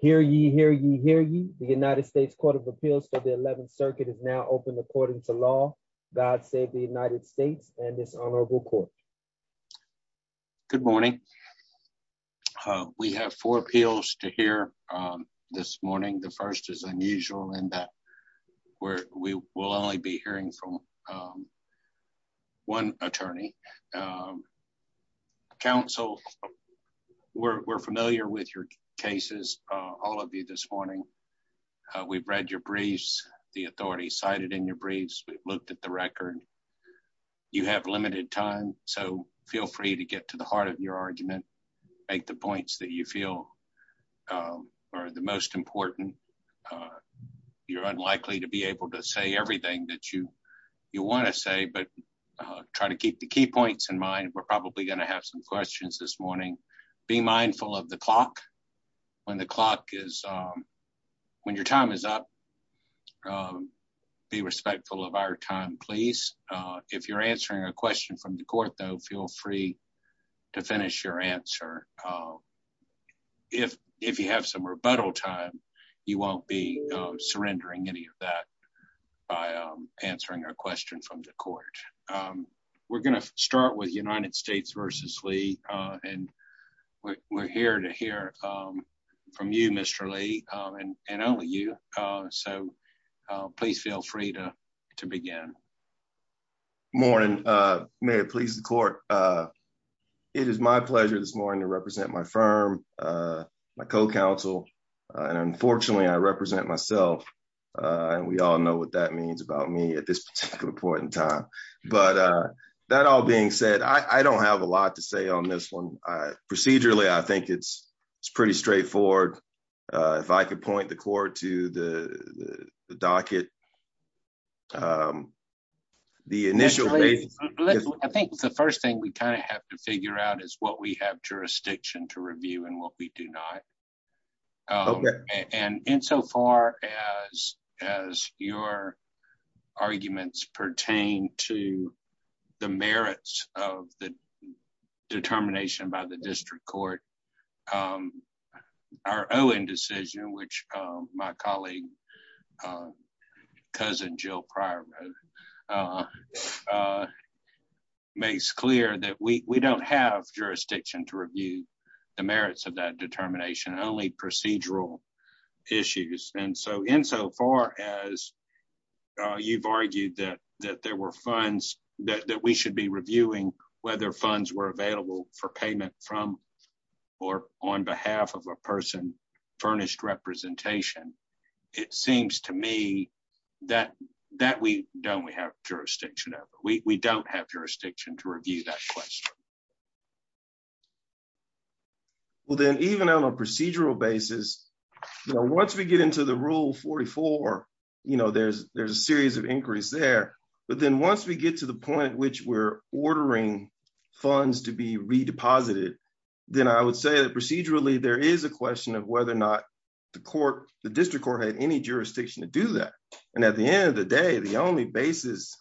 Hear ye, hear ye, hear ye. The United States Court of Appeals for the 11th Circuit is now open according to law. God save the United States and this honorable court. Good morning. We have four appeals to hear this morning. The first is unusual in that we will only be hearing from one attorney. Counsel, we're familiar with your cases, all of you this morning. We've read your briefs, the authority cited in your briefs. We've looked at the record. You have limited time, so feel free to get to the heart of your argument. Make the points that you feel are the most important. You're unlikely to be able to say everything that you want to say, but try to keep the key points in mind. We're probably going to have some questions this morning. Be mindful of the clock. When your time is up, be respectful of our time, please. If you're answering a question from the court, though, feel free to finish your answer. If you have some rebuttal time, you won't be surrendering any of that. We're going to start with United States v. Lee. We're here to hear from you, Mr. Lee, and only you. Please feel free to begin. Good morning. May it please the court. It is my pleasure this morning to represent my firm, my co-counsel. Unfortunately, I represent myself, and we all know what that means about me at this particular point in time. That all being said, I don't have a lot to say on this one. Procedurally, I think it's pretty straightforward. If I could point the court to the docket. I think the first thing we have to figure out is what we have jurisdiction to review and what we do not. Insofar as your arguments pertain to the merits of the determination by the district court, our Owen decision, which my colleague, Cousin Jill Prior wrote, makes clear that we don't have jurisdiction to review the merits of that determination, only procedural issues. Insofar as you've argued that we should be reviewing whether funds were available for payment from or on behalf of a person furnished representation, it seems to me that we don't have jurisdiction to review that question. Well then, even on a procedural basis, once we get into the Rule 44, there's a series of inquiries there, but then once we get to the point at which we're ordering funds to be redeposited, then I would say that procedurally, there is a question of whether the district court had any jurisdiction to do that. At the end of the day, the only basis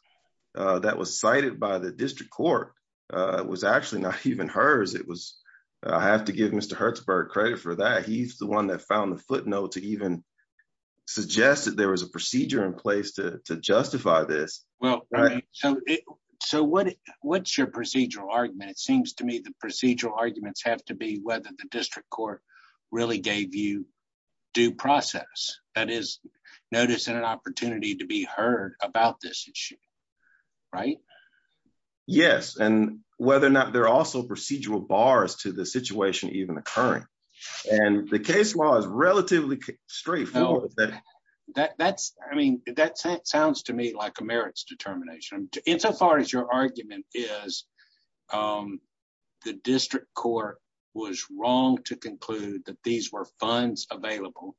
that was cited by the district court was actually not even hers. I have to give Mr. Hertzberg credit for that. He's the one that found the footnote to even suggest that there was a procedure in place to justify this. What's your procedural argument? It seems to me the procedural arguments have to be whether the due process, that is, noticing an opportunity to be heard about this issue, right? Yes, and whether or not there are also procedural bars to the situation even occurring. The case law is relatively straightforward. I mean, that sounds to me like a merits determination. Insofar as your argument is, the district court was wrong to conclude that these were funds available,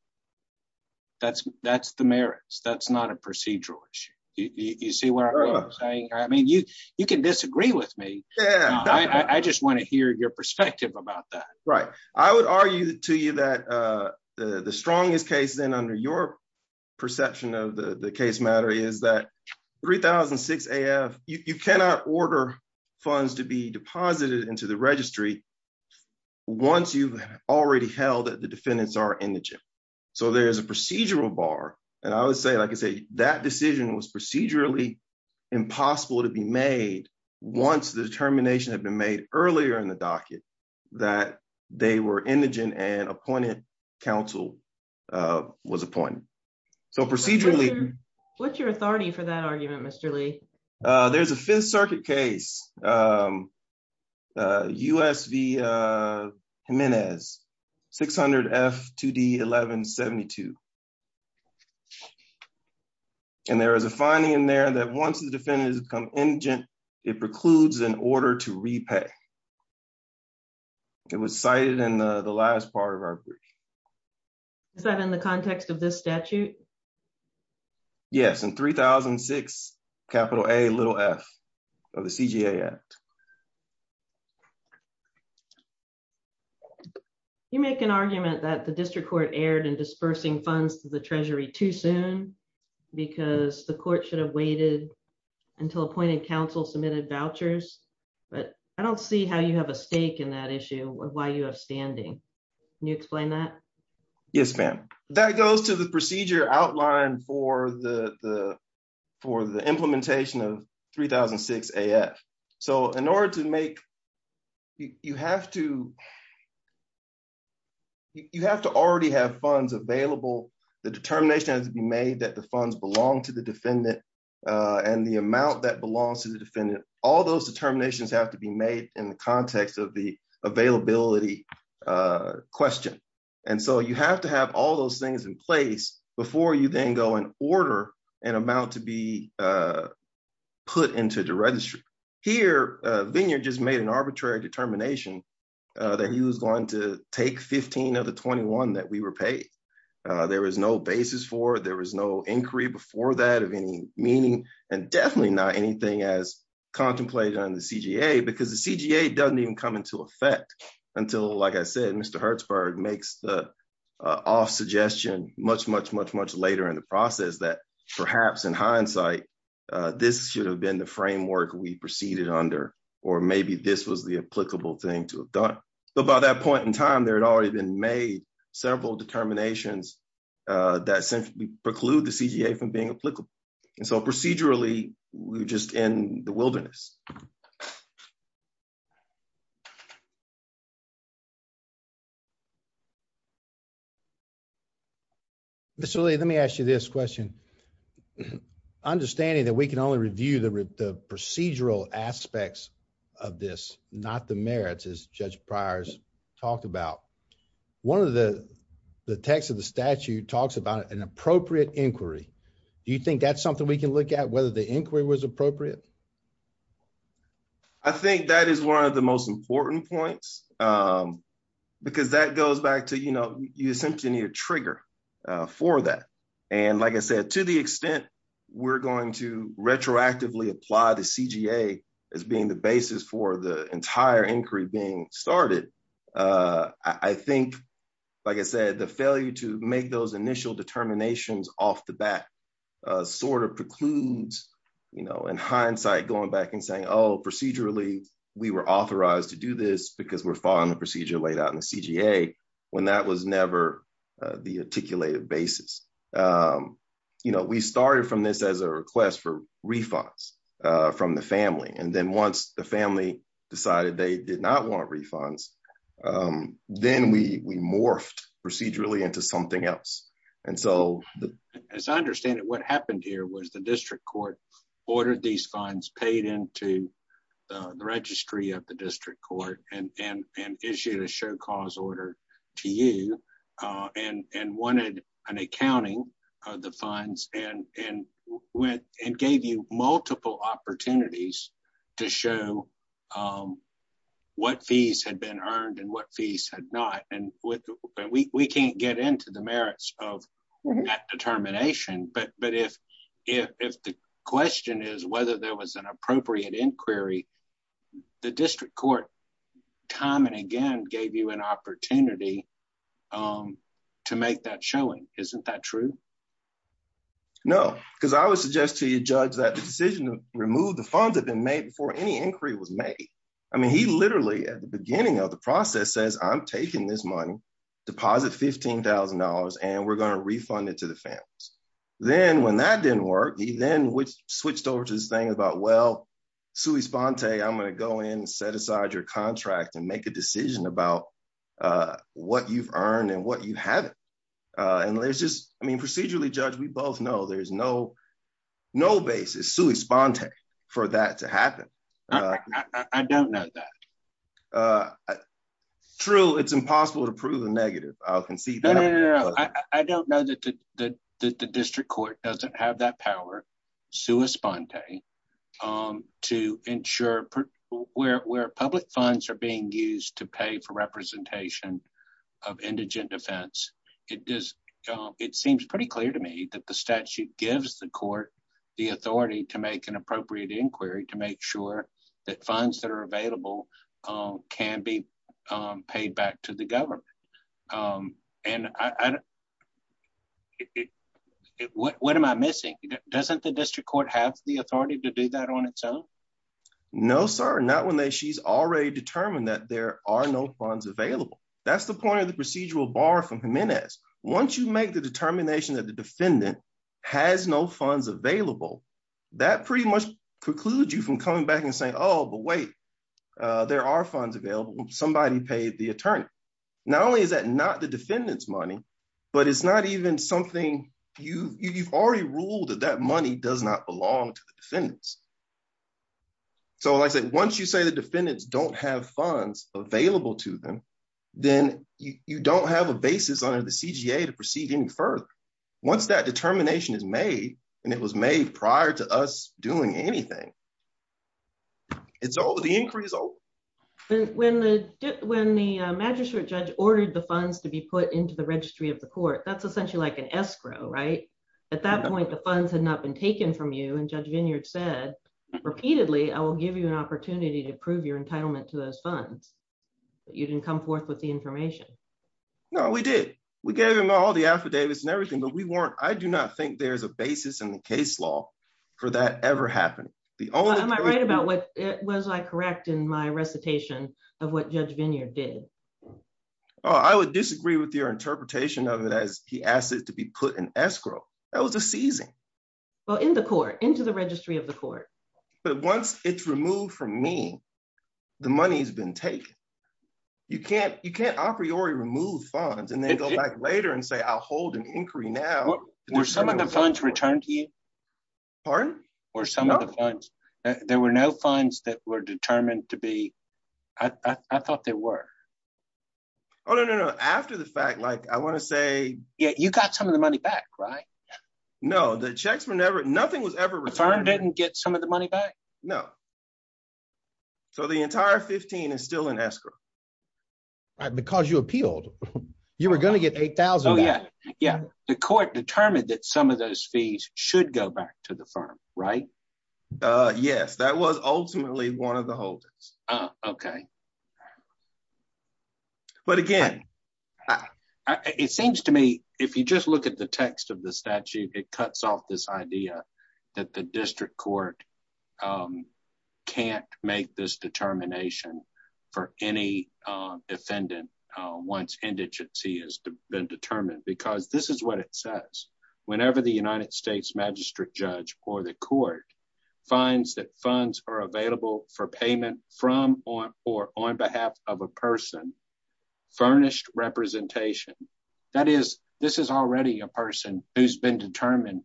that's the merits. That's not a procedural issue. You see what I'm saying? I mean, you can disagree with me. I just want to hear your perspective about that. Right. I would argue to you that the strongest case then under your perception of the case matter is that 3006 AF, you cannot order funds to be deposited into the registry once you've already held that the defendants are indigent. So there's a procedural bar. And I would say, like I say, that decision was procedurally impossible to be made once the determination had been made earlier in the docket that they were indigent and appointed counsel was appointed. So procedurally... What's your authority for that argument, Mr. Lee? There's a Fifth Circuit case, US v Jimenez, 600 F2D 1172. And there is a finding in there that once the defendant has become indigent, it precludes an order to repay. It was cited in the last part of our brief. Is that in the context of this statute? Yes, in 3006 A f of the CGA Act. You make an argument that the district court erred in dispersing funds to the treasury too soon because the court should have waited until appointed counsel submitted vouchers. But I don't see how you have a stake in that issue or why you have standing. Can you explain that? Yes, ma'am. That goes to the procedure outline for the implementation of 3006 A f. So in order to make... You have to already have funds available. The determination has to be made that the funds belong to the defendant and the amount that belongs to the defendant. All those determinations have to be made in the context of the availability question. And so you have to have all those things in place before you then go and order an amount to be put into the registry. Here, Vineyard just made an arbitrary determination that he was going to take 15 of the 21 that we were paid. There was no basis for it. There was no inquiry before that of any meaning and definitely not anything as contemplated on the CGA because the CGA doesn't even come into effect until, like I said, Mr. Hertzberg makes the off suggestion much, much, much, much later in the process that perhaps in hindsight, this should have been the framework we proceeded under, or maybe this was the applicable thing to have done. But by that point in time, there had already been made several determinations that preclude the CGA from being applicable. And so procedurally, we're just in the wilderness. Mr. Lee, let me ask you this question. Understanding that we can only review the procedural aspects of this, not the merits, as Judge Pryor's talked about, one of the texts of the statute talks about an appropriate inquiry. Do you think that's something we can look at, whether the inquiry was appropriate? I think that is one of the most important points, because that goes back to, you essentially need a trigger for that. And like I said, to the extent we're going to retroactively apply the CGA as being the basis for the entire inquiry being started, I think, like I said, the failure to make those initial determinations off the bat precludes, in hindsight, going back and saying, oh, procedurally, we were authorized to do this because we're following the procedure laid out in the CGA, when that was never the articulated basis. We started from this as a request for refunds from the family. And then once the family decided they did not want refunds, then we morphed procedurally into something else. And so, as I understand it, what happened here was the district court ordered these funds, paid into the registry of the district court, and issued a show cause order to you, and wanted an accounting of the funds, and gave you multiple opportunities to show what fees had been earned and what fees had not. And we can't get into the merits of that determination. But if the question is whether there was an appropriate inquiry, the district court, time and again, gave you an opportunity to make that showing. Isn't that true? No. Because I would suggest to you, Judge, that the decision to remove the funds had been made before any inquiry was made. I mean, he literally, at the beginning of the process, says, I'm taking this money, deposit $15,000, and we're going to refund it to the families. Then when that didn't work, he then switched over to this thing about, well, Sui Sponte, I'm going to go in and set aside your contract and make a decision about what you've earned and what you haven't. And there's just, I mean, procedurally, Judge, we both know there's no basis, Sui Sponte, for that to happen. I don't know that. True. It's impossible to prove the negative. I'll concede that. No, no, no, no. I don't know that the district court doesn't have that power, Sui Sponte, to ensure where public funds are being used to pay for representation of indigent defense. It seems pretty clear to me that the statute gives the court the authority to make an appropriate inquiry to make sure that funds that are available can be paid back to the government. And what am I missing? Doesn't the district court have the authority to do that on its own? No, sir. Not when she's already determined that there are no funds available. That's the point of the procedural bar from Jimenez. Once you make the determination that the defendant has no funds available, that pretty much precludes you from coming back and saying, oh, but wait, there are funds available. Somebody paid the attorney. Not only is that not the defendant's money, but it's not even something you've already ruled that that money does not belong to the defendants. So like I said, once you say the defendants don't have funds available to them, then you don't have a basis under the CGA to proceed any further. Once that determination is made, and it was made prior to us doing anything. It's over. The inquiry is over. When the magistrate judge ordered the funds to be put into the registry of the court, that's essentially like an escrow, right? At that point, the funds had not been taken from you. And Judge Vineyard said repeatedly, I will give you an opportunity to prove your entitlement to those funds, but you didn't come forth with the information. No, we did. We gave him all the affidavits and everything, but we weren't. I do not think there's a basis in the case law for that ever happening. Am I right about what? Was I correct in my recitation of what Judge Vineyard did? Oh, I would disagree with your interpretation of it as he asked it to be put in escrow. That was a seizing. Well, in the court, into the registry of the court. But once it's removed from me, the money's been taken. You can't a priori remove funds and then go back later and say, I'll hold an inquiry now. Were some of the funds returned to you? Pardon? Were some of the funds? There were no funds that were determined to be, I thought there were. Oh, no, no, no. After the fact, I want to say. Yeah, you got some of the money back, right? No, the checks were never, nothing was ever returned. The firm didn't get some of the money back? No. So the entire 15 is still in escrow. Because you appealed, you were going to get 8,000. Oh, yeah. Yeah. The court determined that some of those fees should go back to the firm, right? Yes, that was ultimately one of the holdings. Okay. But again. It seems to me, if you just look at the text of the statute, it cuts off this idea that the district court can't make this determination for any defendant once indigency has been determined. Because this is what it says. Whenever the United States magistrate judge or the court finds that funds are available for payment from or on behalf of a person, furnished representation, that is, this is already a person who's been determined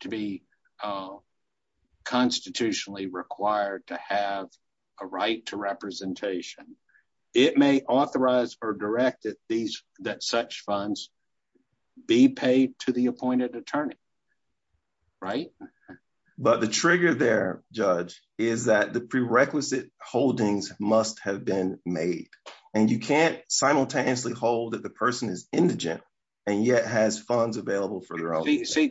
to be constitutionally required to have a right to representation. It may authorize or direct that such funds be paid to the appointed attorney. Right? But the trigger there, Judge, is that the prerequisite holdings must have been made. And you can't simultaneously hold that the person is indigent and yet has funds available for their own. See,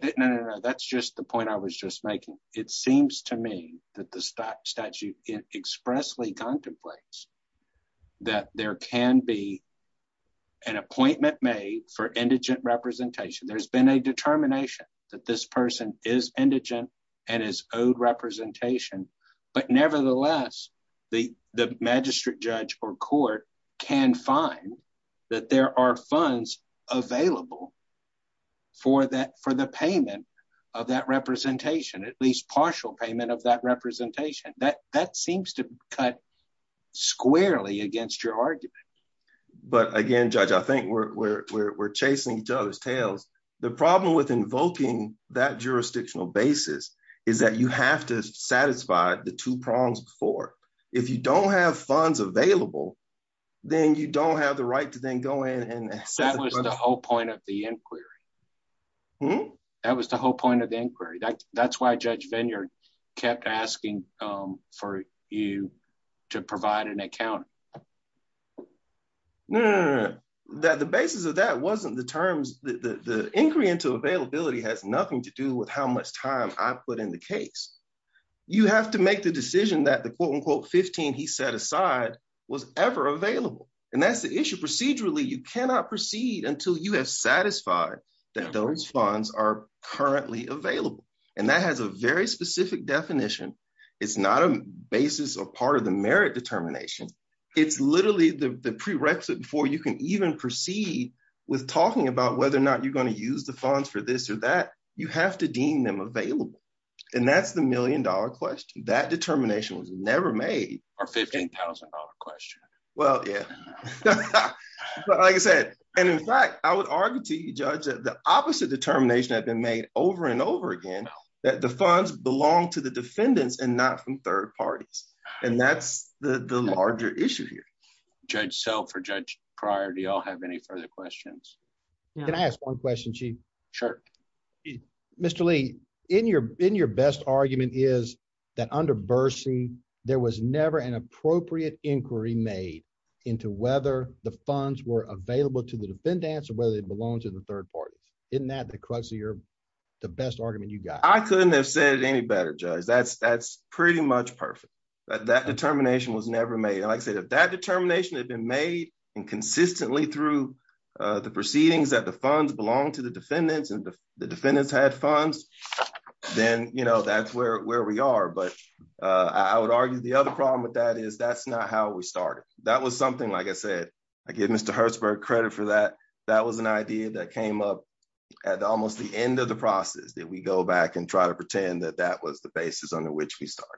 that's just the point I was just making. It seems to me that the statute expressly contemplates that there can be an appointment made for indigent representation. There's been a determination that this person is indigent and is owed representation. But nevertheless, the magistrate judge or court can find that there are funds available for the payment of that representation, at least partial payment of that representation. That seems to cut squarely against your argument. But again, Judge, I think we're chasing each other's tails. The problem with invoking that jurisdictional basis is that you have to satisfy the two prongs before. If you don't have funds available, then you don't have the right to then go in and- That was the whole point of the inquiry. That was the whole point of the inquiry. That's why Judge Vineyard kept asking for you to provide an accountant. No, no, no. The basis of that wasn't the terms. The inquiry into availability has nothing to do with how much time I put in the case. You have to make the decision that the quote-unquote 15 he set aside was ever available. And that's the issue. Procedurally, you cannot proceed until you have satisfied that those funds are currently available. And that has a very specific definition. It's not a basis or part of the merit determination. It's literally the prerequisite before you can even proceed with talking about whether or not you're going to use the funds for this or that. You have to deem them available. And that's the million-dollar question. That determination was never made. Our $15,000 question. Well, yeah. But like I said, and in fact, I would argue to you, Judge, that the opposite determination had been made over and over again that the funds belong to the defendants and not from third parties. And that's the larger issue here. Judge Self or Judge Pryor, do you all have any further questions? Can I ask one question, Chief? Sure. Mr. Lee, in your best argument is that under Bursey, there was never an appropriate inquiry made into whether the funds were available to the defendants or whether they belonged to the third parties. Isn't that the best argument you got? I couldn't have said it any better, Judge. That's pretty much perfect. That determination was never made. And like I said, if that determination had been made and consistently through the proceedings that the funds belong to the defendants and the defendants had funds, then that's where we are. But I would argue the other problem with that is that's not how we started. That was something, like I said, I give Mr. Hertzberg credit for that. That was an idea that came up at almost the end of the process that we go back and try to pretend that that was the basis under which we started.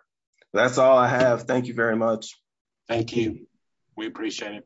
That's all I have. Thank you very much. Thank you. We appreciate it.